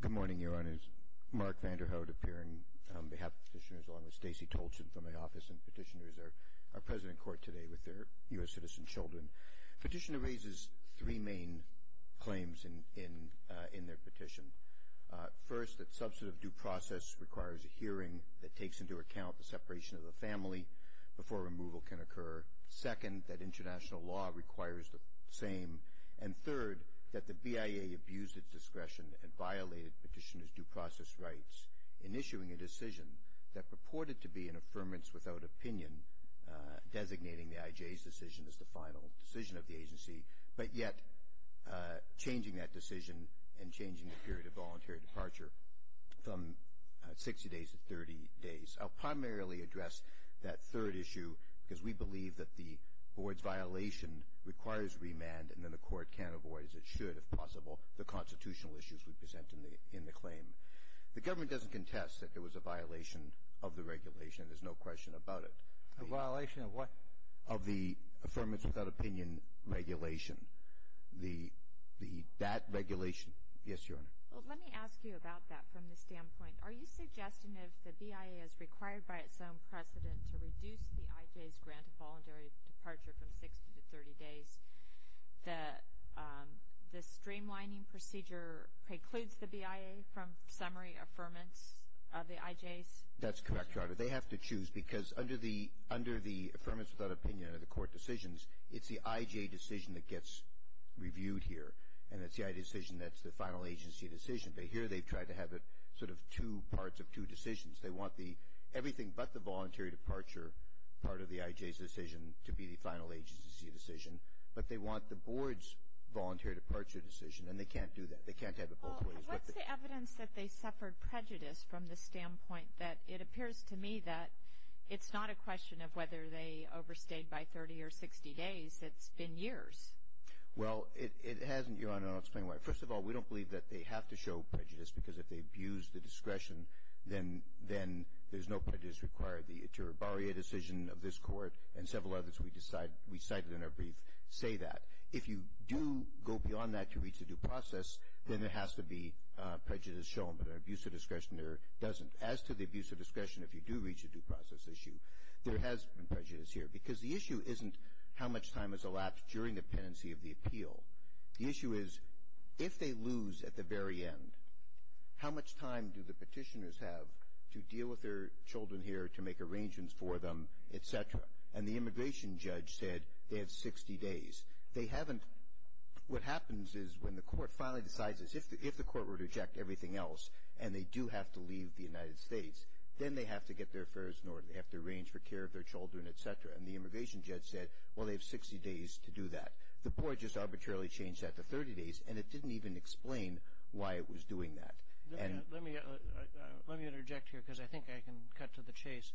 Good morning, Your Honors. Mark Vanderhout appearing on behalf of Petitioners along with Stacey Tolchin from my office, and Petitioners are present in court today with their U.S. citizen children. Petitioner raises three main claims in their petition. First, that substantive due process requires a hearing that takes into account the separation of the family before removal can occur. Second, that international law requires the same. And third, that the BIA abused its discretion and violated Petitioner's due process rights in issuing a decision that purported to be an affirmance without opinion, designating the IJ's decision as the final decision of the agency, but yet changing that decision and changing the period of voluntary departure from 60 days to 30 days. I'll primarily address that third issue because we believe that the board's violation requires remand and then the court can avoid, as it should, if possible, the constitutional issues we present in the claim. The government doesn't contest that it was a violation of the regulation. There's no question about it. The violation of what? Of the affirmance without opinion regulation. That regulation. Yes, Your Honor. Well, let me ask you about that from the standpoint. Are you suggesting that if the BIA is required by its own precedent to reduce the IJ's grant of voluntary departure from 60 to 30 days, that the streamlining procedure precludes the BIA from summary affirmance of the IJ's? That's correct, Your Honor. They have to choose because under the affirmance without opinion or the court decisions, it's the IJ decision that gets reviewed here. And it's the IJ decision that's the final agency decision. But here they've tried to have it sort of two parts of two decisions. They want everything but the voluntary departure part of the IJ's decision to be the final agency decision. But they want the board's voluntary departure decision. And they can't do that. They can't have it both ways. Well, what's the evidence that they suffered prejudice from the standpoint that it appears to me that it's not a question of whether they overstayed by 30 or 60 days. It's been years. Well, it hasn't, Your Honor. I'll explain why. First of all, we don't believe that they have to show prejudice because if they abuse the discretion, then there's no prejudice required. The Itura Barria decision of this court and several others we cited in our brief say that. If you do go beyond that to reach a due process, then there has to be prejudice shown. But an abuse of discretion there doesn't. As to the abuse of discretion if you do reach a due process issue, there has been prejudice here because the issue isn't how much time has elapsed during the pendency of the appeal. The issue is if they lose at the very end, how much time do the petitioners have to deal with their children here to make arrangements for them, etc. And the immigration judge said they have 60 days. They haven't. What happens is when the court finally decides is if the court were to reject everything else and they do have to leave the United States, then they have to get their affairs in order. They have to arrange for care of their children, etc. And the immigration judge said, well, they have 60 days to do that. The board just arbitrarily changed that to 30 days and it didn't even explain why it was doing that. Let me interject here because I think I can cut to the chase.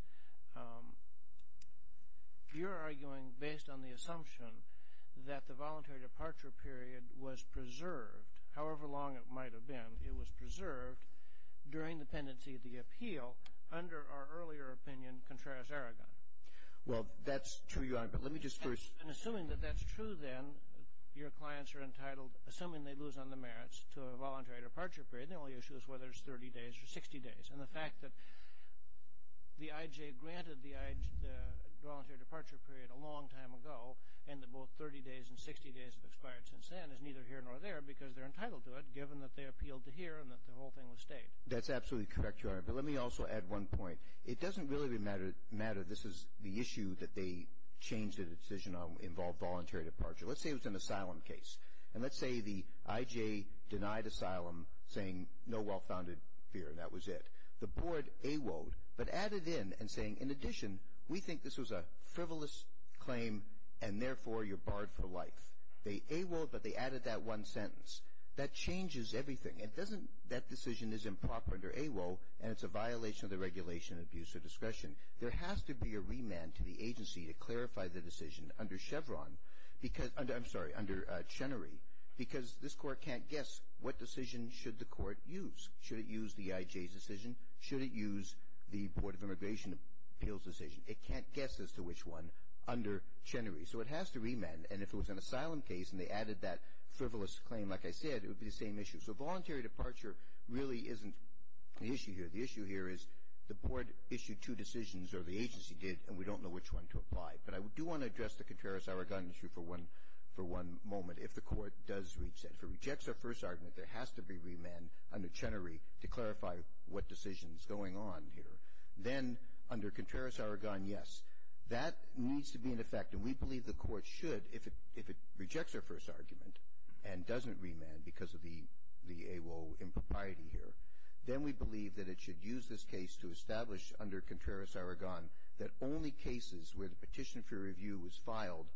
You're arguing based on the assumption that the voluntary departure period was preserved, however long it might have been, it was preserved during the pendency of the appeal under our earlier opinion, Contreras-Aragon. Well, that's true, Your Honor, but let me just first... ...assuming they lose on the merits to a voluntary departure period, the only issue is whether it's 30 days or 60 days. And the fact that the IJ granted the voluntary departure period a long time ago and that both 30 days and 60 days have expired since then is neither here nor there because they're entitled to it, given that they appealed to here and that the whole thing was stayed. That's absolutely correct, Your Honor, but let me also add one point. It doesn't really matter if this is the issue that they changed the decision on involved voluntary departure. Let's say it was an asylum case and let's say the IJ denied asylum saying no well-founded fear and that was it. The board AWOed but added in and saying, in addition, we think this was a frivolous claim and therefore you're barred for life. They AWOed but they added that one sentence. That changes everything. That decision is improper under AWO and it's a violation of the regulation of abuse of discretion. There has to be a remand to the I'm sorry, under Chenery because this court can't guess what decision should the court use. Should it use the IJ's decision? Should it use the Board of Immigration Appeals decision? It can't guess as to which one under Chenery. So it has to remand and if it was an asylum case and they added that frivolous claim, like I said, it would be the same issue. So voluntary departure really isn't the issue here. The issue here is the board issued two decisions or the agency did and we don't know which one to apply. But I do want to address the Contreras-Aragon issue for one moment. If the court does reach that, if it rejects their first argument, there has to be remand under Chenery to clarify what decision is going on here. Then under Contreras-Aragon, yes. That needs to be in effect and we believe the court should, if it rejects their first argument and doesn't remand because of the AWO impropriety here, then we believe that it should use this case to establish under child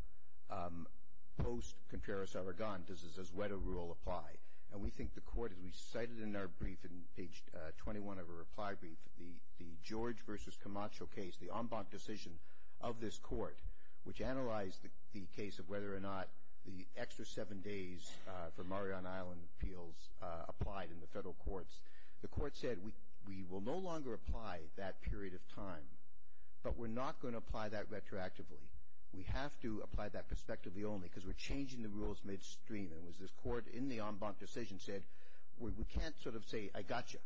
post-Contreras-Aragon. Does this UZWETA rule apply? And we think the court, as we cited in our brief in page 21 of our reply brief, the George versus Camacho case, the en banc decision of this court, which analyzed the case of whether or not the extra seven days for Mariana Island appeals applied in the federal courts. The court said we will no longer apply that period of time, but we're not going to apply that retroactively. We have to apply that retroactively only because we're changing the rules midstream. It was this court in the en banc decision said we can't sort of say I got you.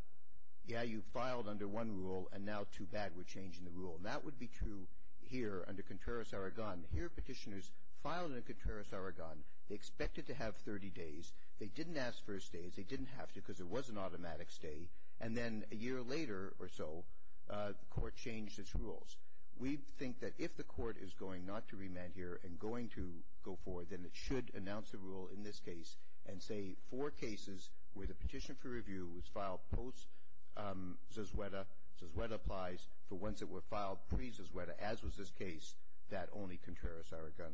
Yeah, you filed under one rule and now too bad we're changing the rule. That would be true here under Contreras-Aragon. Here petitioners filed under Contreras-Aragon. They expected to have 30 days. They didn't ask for a stay. They didn't have to because it was an automatic stay. And then a year later or so, the court changed its rules. We think that if the court is going not to amend here and going to go forward, then it should announce the rule in this case and say four cases where the petition for review was filed post-Zazueta, Zazueta applies, for ones that were filed pre-Zazueta, as was this case, that only Contreras-Aragon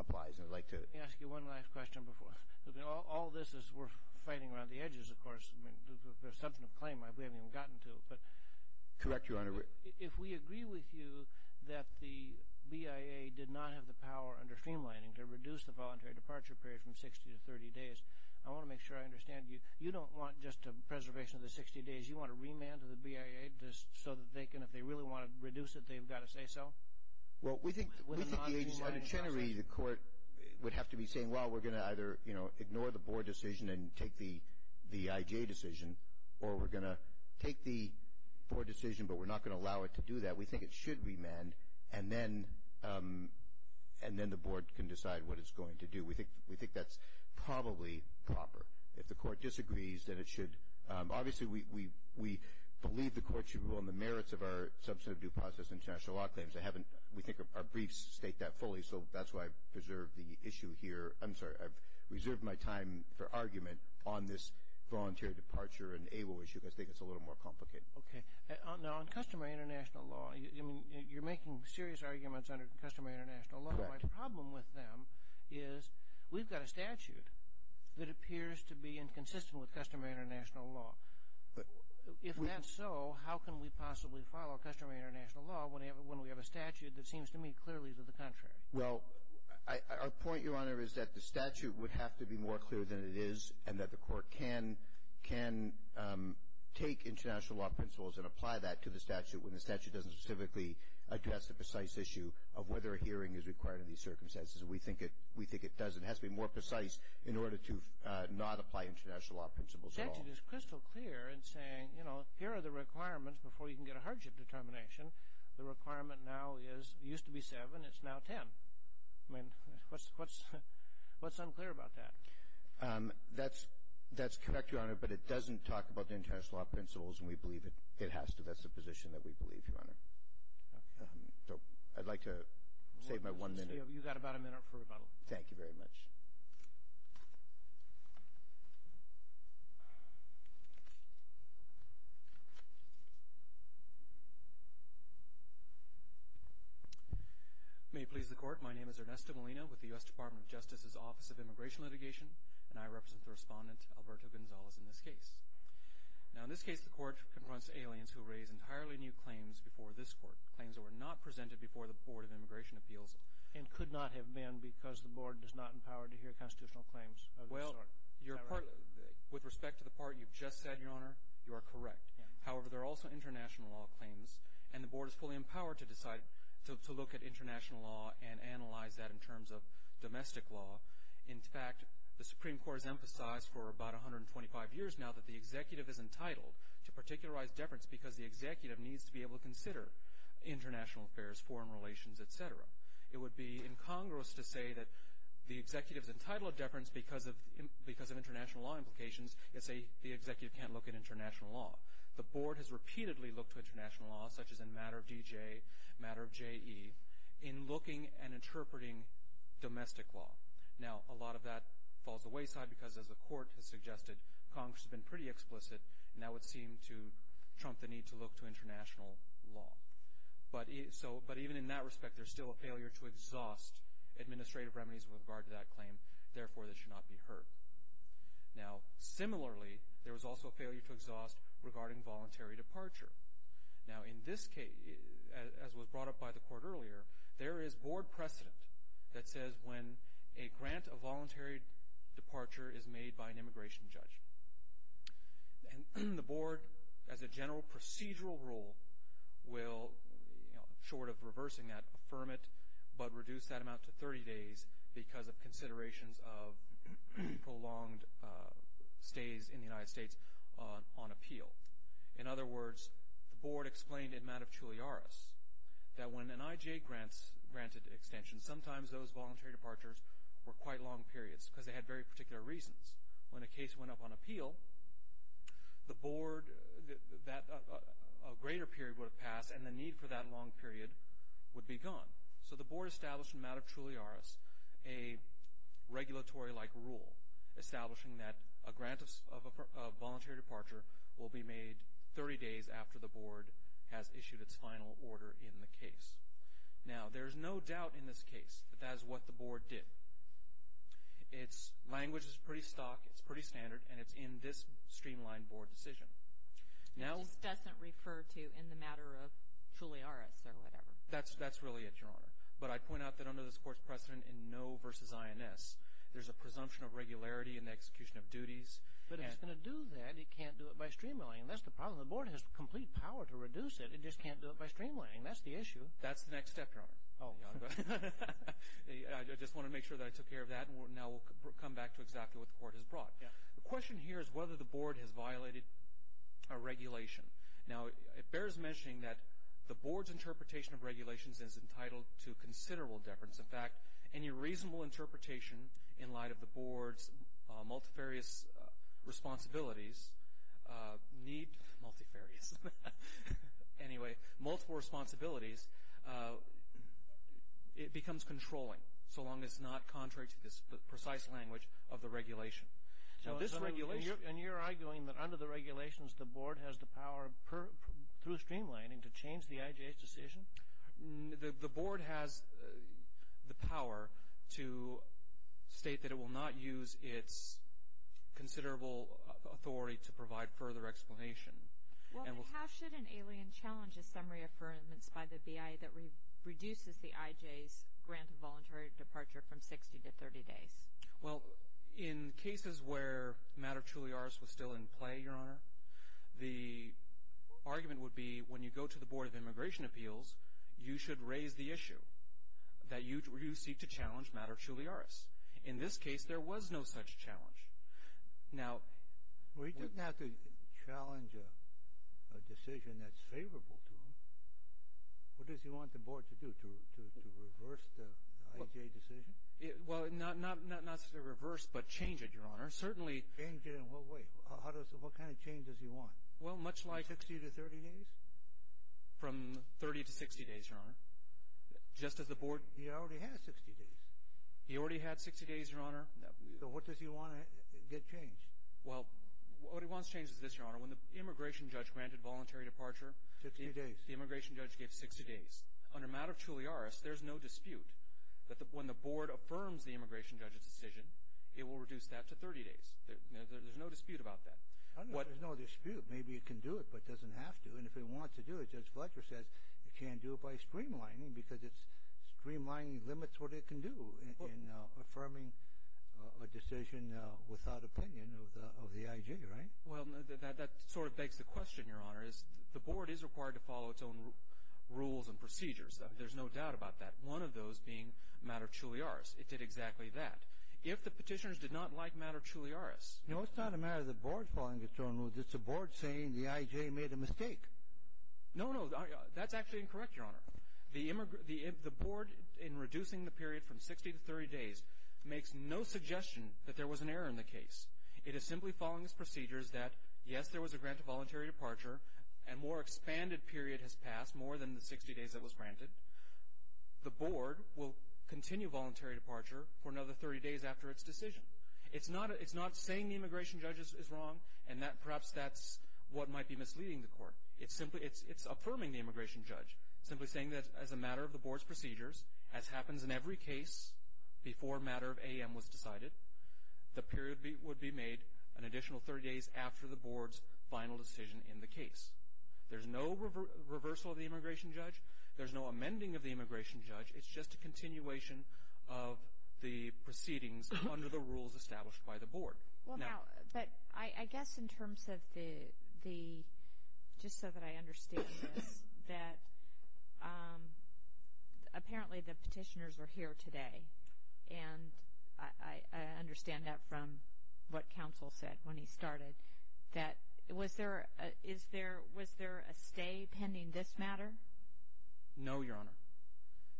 applies. And I'd like to ask you one last question before. All this is we're fighting around the edges, of course. I mean, there's substantive claim we haven't even gotten to. But correct Your Honor. If we agree with you that the BIA did not have the power under streamlining to reduce the voluntary departure period from 60 to 30 days, I want to make sure I understand you. You don't want just a preservation of the 60 days. You want a remand to the BIA so that they can, if they really want to reduce it, they've got to say so? Well, we think the agency, the court would have to be saying, well, we're going to either, you know, ignore the board decision and take the IGA decision or we're going to take the board decision but we're not going to allow it to do that. We think it should remand and then the board can decide what it's going to do. We think that's probably proper. If the court disagrees, then it should. Obviously, we believe the court should rule on the merits of our substantive due process international law claims. I haven't, we think our briefs state that fully, so that's why I've reserved the issue here. I'm sorry, I've reserved my time for argument on this voluntary departure and AWO issue because I think it's a little more complicated. Okay. Now, on customary international law, you're making serious arguments under customary international law. My problem with them is we've got a statute that appears to be inconsistent with customary international law. If that's so, how can we possibly follow customary international law when we have a statute that seems to me clearly to the contrary? Well, our point, Your Honor, is that the statute would have to be more clear than it is and that the court can take international law principles and apply that to the statute when the statute doesn't specifically address the precise issue of whether a hearing is required in these circumstances. We think it does. It has to be more precise in order to not apply international law principles at all. The statute is crystal clear in saying, you know, here are the requirements before you can get a hardship determination. The requirement now is, it used to be seven, it's now ten. I mean, what's unclear about that? That's correct, Your Honor, but it doesn't talk about the international law principles and we believe it has to. That's the position that we believe, Your Honor. So I'd like to save my one minute. You've got about a minute for rebuttal. Thank you very much. May it please the court, my name is Ernesto Molina with the U.S. Department of Justice's Office of Immigration Litigation and I represent the respondent, Alberto Gonzalez, in this case. Now, in this case, the court confronts aliens who raise entirely new claims before this court, claims that were not presented before the Board of Immigration Appeals. And could not have been because the board does not empower to hear constitutional claims of this sort. Well, your part, with respect to the part you've just said, Your Honor, you are correct. However, there are also international law claims and the board is fully empowered to decide, to look at international law and analyze that in terms of domestic law. In fact, the Supreme Court has emphasized for about 125 years now that the executive is entitled to particularize deference because the executive needs to be able to consider international affairs, foreign relations, et cetera. It would be incongruous to say that the executive is entitled to deference because of international law implications and say the executive can't look at international law. The board has repeatedly looked at international law, such as in matter of D.J., matter of J.E., in looking and interpreting domestic law. Now, a lot of that falls to the wayside because, as the court has suggested, Congress has been pretty explicit and that would seem to trump the need to look to international law. But even in that respect, there's still a failure to exhaust administrative remedies with regard to that claim. Therefore, this should not be heard. Now, similarly, there was also a failure to exhaust regarding voluntary departure. Now, in this case, as was brought up by the court earlier, there is board precedent that says when a grant of voluntary departure is made by an immigration judge. And the board as a general procedural rule will, you know, short of reversing that, affirm it, but reduce that amount to 30 days because of considerations of prolonged stays in the United States on appeal. In other words, the board explained in matter of Tulliaris that when an I.J. grants granted extension, sometimes those voluntary departures were quite long periods because they had very particular reasons. When a case went up on appeal, the board that a greater period would have passed and the need for that long period would be gone. So the board established in matter of Tulliaris a regulatory-like rule establishing that a grant of voluntary departure will be made 30 days after the board has issued its final order in the case. Now, there's no doubt in this case that that is what the board did. Its language is pretty stock, it's pretty standard, and it's in this streamlined board decision. It just doesn't refer to in the matter of Tulliaris or whatever. That's really it, Your Honor. But I'd point out that under this court's precedent in no versus INS, there's a presumption of regularity in the execution of duties. But if it's going to do that, it can't do it by streamlining. That's the problem. The board has complete power to reduce it. It just can't do it by streamlining. That's the issue. That's the next step, Your Honor. I just want to make sure that I took care of that. And now we'll come back to exactly what the court has brought. The question here is whether the board has violated a regulation. Now, it bears mentioning that the board's interpretation of regulations is entitled to considerable deference. In fact, any reasonable interpretation in light of the board's multifarious responsibilities need, multifarious, anyway, multiple responsibilities, it becomes controlling, so long as it's not contrary to this precise language of the regulation. Now, this regulation- And you're arguing that under the regulations, the board has the power through streamlining to change the IJ's decision? The board has the power to state that it will not use its considerable authority to provide further explanation. Well, then how should an alien challenge a summary of affirmance by the BI that reduces the IJ's grant of voluntary departure from 60 to 30 days? Well, in cases where matter truly ours was still in play, Your Honor, the argument would be when you go to the Board of Immigration Appeals, you should raise the issue that you seek to challenge matter truly ours. In this case, there was no such challenge. Now- Well, he doesn't have to challenge a decision that's favorable to him. What does he want the board to do? To reverse the IJ decision? Well, not to reverse, but change it, Your Honor. Certainly- Change it in what way? What kind of change does he want? Well, much like- From 30 to 60 days, Your Honor. Just as the board- He already has 60 days. He already had 60 days, Your Honor. So what does he want to get changed? Well, what he wants changed is this, Your Honor. When the immigration judge granted voluntary departure- 60 days. The immigration judge gave 60 days. On a matter truly ours, there's no dispute that when the board affirms the immigration judge's decision, it will reduce that to 30 days. There's no dispute about that. There's no dispute. Maybe it can do it, but it doesn't have to. And if it wants to do it, Judge Fletcher says it can't do it by streamlining because streamlining limits what it can do in affirming a decision without opinion of the IJ, right? Well, that sort of begs the question, Your Honor, is the board is required to follow its own rules and procedures. There's no doubt about that. One of those being a matter truly ours. It did exactly that. If the petitioners did not like a matter truly ours- No, it's not a matter of the board following its own rules. It's the board saying the IJ made a mistake. No, no. That's actually incorrect, Your Honor. The board, in reducing the period from 60 to 30 days, makes no suggestion that there was an error in the case. It is simply following its procedures that, yes, there was a grant of voluntary departure, and more expanded period has passed, more than the 60 days that was granted. The board will continue voluntary departure for another 30 days after its decision. It's not saying the immigration judge is wrong, and perhaps that's what might be misleading the court. It's affirming the immigration judge, simply saying that as a matter of the board's procedures, as happens in every case before a matter of AAM was decided, the period would be made an additional 30 days after the board's final decision in the case. There's no reversal of the immigration judge. There's no amending of the immigration judge. It's just a continuation of the proceedings under the rules established by the board. Well, now, but I guess in terms of the, just so that I understand this, that apparently the petitioners were here today, and I understand that from what counsel said when he started, that was there a stay pending this matter? No, Your Honor.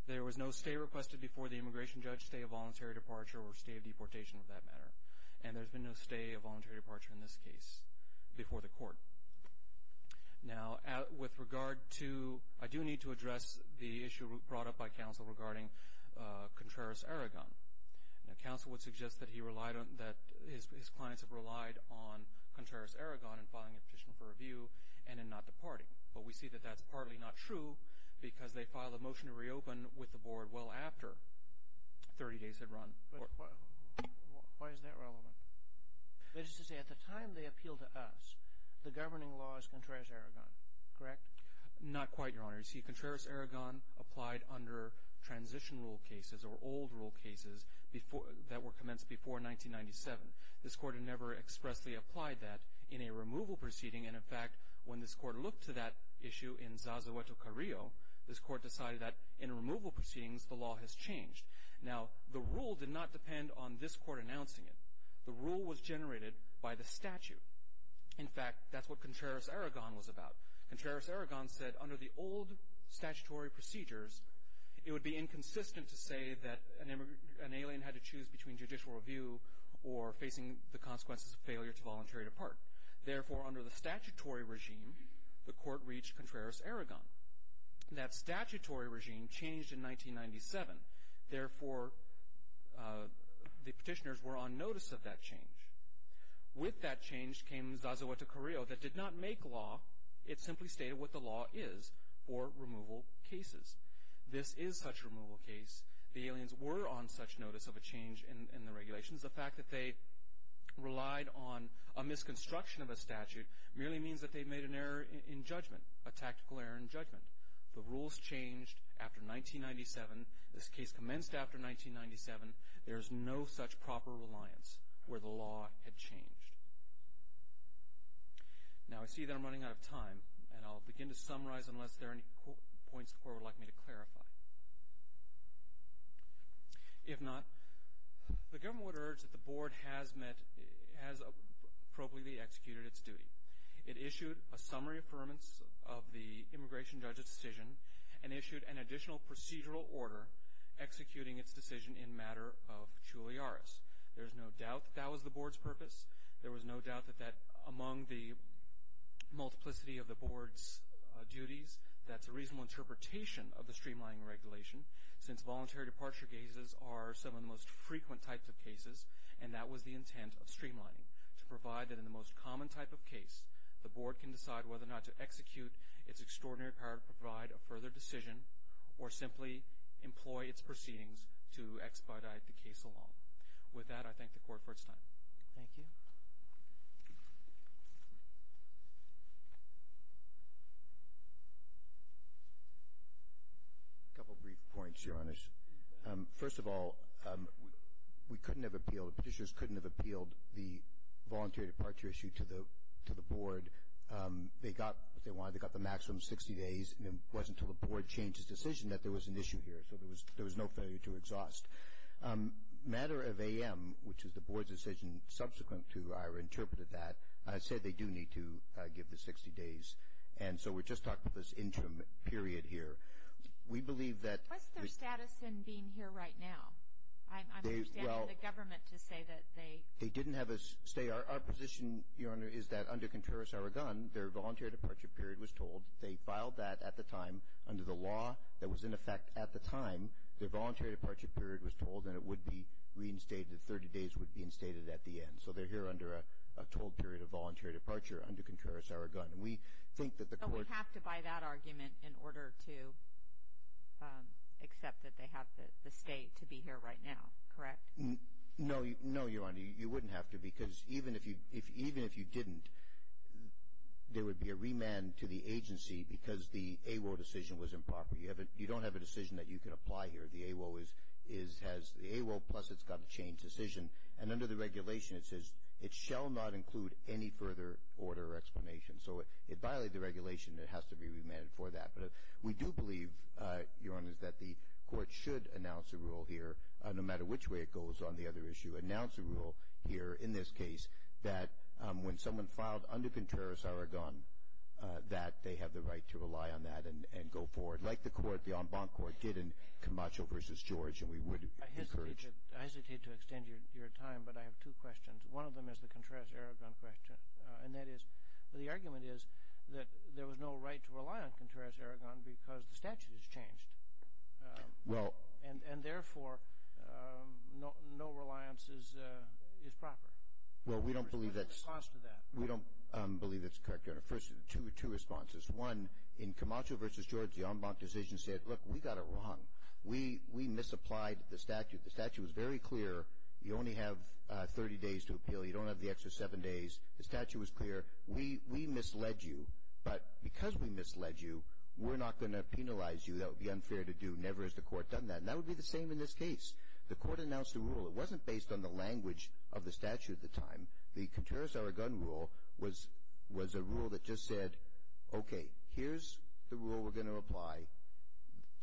There was no stay requested before the immigration judge, stay of voluntary departure, or stay of deportation for that matter. And there's been no stay of voluntary departure in this case before the court. Now, with regard to, I do need to address the issue brought up by counsel regarding Contreras-Aragon. Now, counsel would suggest that he relied on, that his clients have relied on Contreras-Aragon in filing a petition for review and in not departing. But we see that that's partly not true because they filed a motion to reopen with the board well after 30 days had run. But why is that relevant? That is to say, at the time they appealed to us, the governing law is Contreras-Aragon, correct? Not quite, Your Honor. You see, Contreras-Aragon applied under transition rule cases or old rule cases that were commenced before 1997. This court had never expressly applied that in a removal proceeding. And in fact, when this court looked to that issue in Zazueto Carrillo, this court decided that in removal proceedings, the law has changed. Now, the rule did not depend on this court announcing it. The rule was generated by the statute. In fact, that's what Contreras-Aragon was about. Contreras-Aragon said under the old statutory procedures, it would be inconsistent to say that an alien had to choose between judicial review or facing the consequences of failure to voluntary depart. Therefore, under the statutory regime, the court reached Contreras-Aragon. That statutory regime changed in 1997. Therefore, the petitioners were on notice of that change. With that change came Zazueto Carrillo that did not make law. It simply stated what the law is for removal cases. This is such a removal case. The aliens were on such notice of a change in the regulations. The fact that they relied on a misconstruction of a statute merely means that they made an error in judgment, a tactical error in judgment. The rules changed after 1997. This case commenced after 1997. There is no such proper reliance where the law had changed. Now, I see that I'm running out of time, and I'll begin to summarize unless there are any points the court would like me to clarify. If not, the government would urge that the board has appropriately executed its duty. It issued a summary affirmance of the immigration judge's decision and issued an additional procedural order executing its decision in matter of culiaris. There's no doubt that that was the board's purpose. There was no doubt that among the multiplicity of the board's duties, that's a reasonable interpretation of the streamlining regulation since voluntary departure cases are some of the most frequent types of cases, and that was the intent of streamlining, to provide that in the most common type of case, the board can decide whether or not to execute its extraordinary power to provide a further decision or simply employ its proceedings to expedite the case along. With that, I thank the court for its time. Thank you. A couple of brief points, Your Honor. First of all, we couldn't have appealed, the petitioners couldn't have appealed the voluntary departure issue to the board. They got what they wanted. They got the maximum 60 days, and it wasn't until the board changed its decision that there was an issue here, so there was no failure to exhaust. Matter of AM, which is the board's decision subsequent to Ira interpreted that, said they do need to give the 60 days, and so we just talked about this interim period here. What's their status in being here right now? I'm understanding the government to say that they — They didn't have a stay. Our position, Your Honor, is that under Contreras-Aragon, their voluntary departure period was told. They filed that at the time under the law that was in effect at the time. Their voluntary departure period was told, and it would be reinstated, 30 days would be instated at the end. So they're here under a total period of voluntary departure under Contreras-Aragon. We think that the court — So we have to buy that argument in order to accept that they have the stay to be here right now, correct? No, Your Honor. You wouldn't have to because even if you didn't, there would be a remand to the agency because the AWO decision was improper. You don't have a decision that you can apply here. The AWO plus it's got to change decision, and under the regulation it says it shall not include any further order or explanation. So it violated the regulation, and it has to be remanded for that. But we do believe, Your Honor, that the court should announce a rule here, no matter which way it goes on the other issue, announce a rule here in this case that when someone filed under Contreras-Aragon, that they have the right to rely on that and go forward like the court, the en banc court did in Camacho v. George, and we would encourage. I hesitate to extend your time, but I have two questions. One of them is the Contreras-Aragon question, and that is the argument is that there was no right to rely on Contreras-Aragon because the statute has changed. Well. And therefore, no reliance is proper. Well, we don't believe that's. What's the cost of that? We don't believe that's correct, Your Honor. First, two responses. One, in Camacho v. George, the en banc decision said, look, we got it wrong. We misapplied the statute. The statute was very clear. You only have 30 days to appeal. You don't have the extra seven days. The statute was clear. We misled you, but because we misled you, we're not going to penalize you. That would be unfair to do. Never has the court done that, and that would be the same in this case. The court announced a rule. It wasn't based on the language of the statute at the time. The Contreras-Aragon rule was a rule that just said, okay, here's the rule we're going to apply.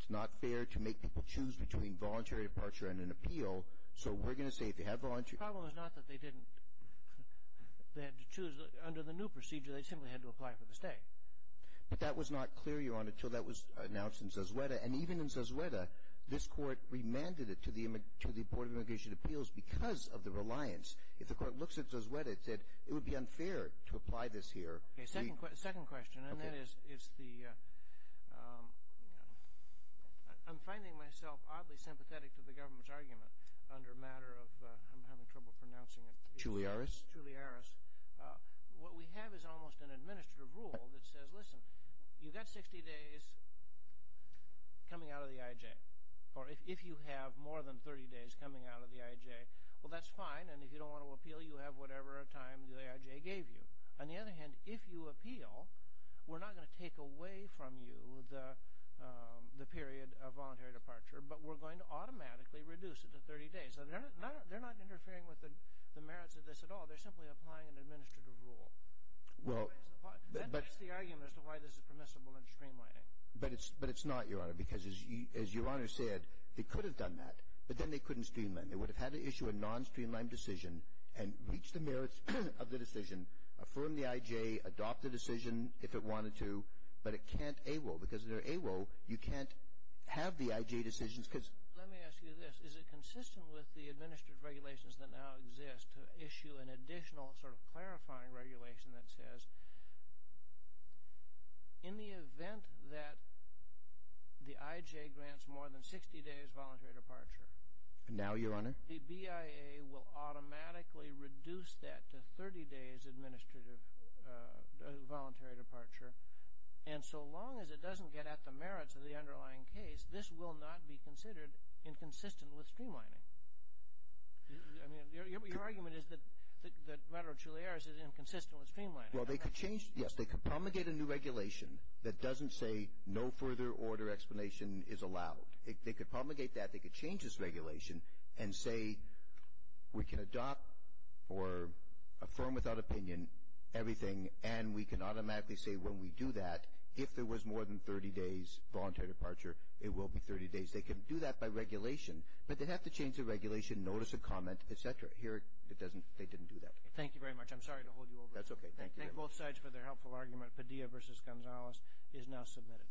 It's not fair to make people choose between voluntary departure and an appeal, so we're going to say if you have voluntary. The problem is not that they didn't. They had to choose. Under the new procedure, they simply had to apply for the stay. But that was not clear, Your Honor, until that was announced in Sosueta. And even in Sosueta, this court remanded it to the Board of Immigration Appeals because of the reliance. If the court looks at Sosueta, it said it would be unfair to apply this here. Okay. Second question. Okay. And that is, it's the ‑‑ I'm finding myself oddly sympathetic to the government's argument under a matter of ‑‑ I'm having trouble pronouncing it. Chulliaris. Chulliaris. What we have is almost an administrative rule that says, listen, you've got 60 days coming out of the IJ. Or if you have more than 30 days coming out of the IJ, well, that's fine. And if you don't want to appeal, you have whatever time the IJ gave you. On the other hand, if you appeal, we're not going to take away from you the period of voluntary departure, but we're going to automatically reduce it to 30 days. So they're not interfering with the merits of this at all. They're simply applying an administrative rule. That makes the argument as to why this is permissible in streamlining. But it's not, Your Honor, because as Your Honor said, they could have done that, but then they couldn't streamline. They would have had to issue a non‑streamlined decision and reach the merits of the decision, affirm the IJ, adopt the decision if it wanted to, but it can't AWO. Because if they're AWO, you can't have the IJ decisions. Let me ask you this. Is it consistent with the administrative regulations that now exist to issue an additional sort of clarifying regulation that says, in the event that the IJ grants more than 60 days voluntary departure, the BIA will automatically reduce that to 30 days administrative voluntary departure, and so long as it doesn't get at the merits of the underlying case, this will not be considered inconsistent with streamlining. I mean, your argument is that retrochilearis is inconsistent with streamlining. Well, they could change, yes. They could promulgate a new regulation that doesn't say no further order explanation is allowed. They could promulgate that. They could change this regulation and say we can adopt or affirm without opinion everything, and we can automatically say when we do that, if there was more than 30 days voluntary departure, it will be 30 days. They can do that by regulation, but they'd have to change the regulation, notice of comment, et cetera. Here it doesn't. They didn't do that. Thank you very much. I'm sorry to hold you over. That's okay. Thank you. Thank both sides for their helpful argument. Padilla v. Gonzalez is now submitted.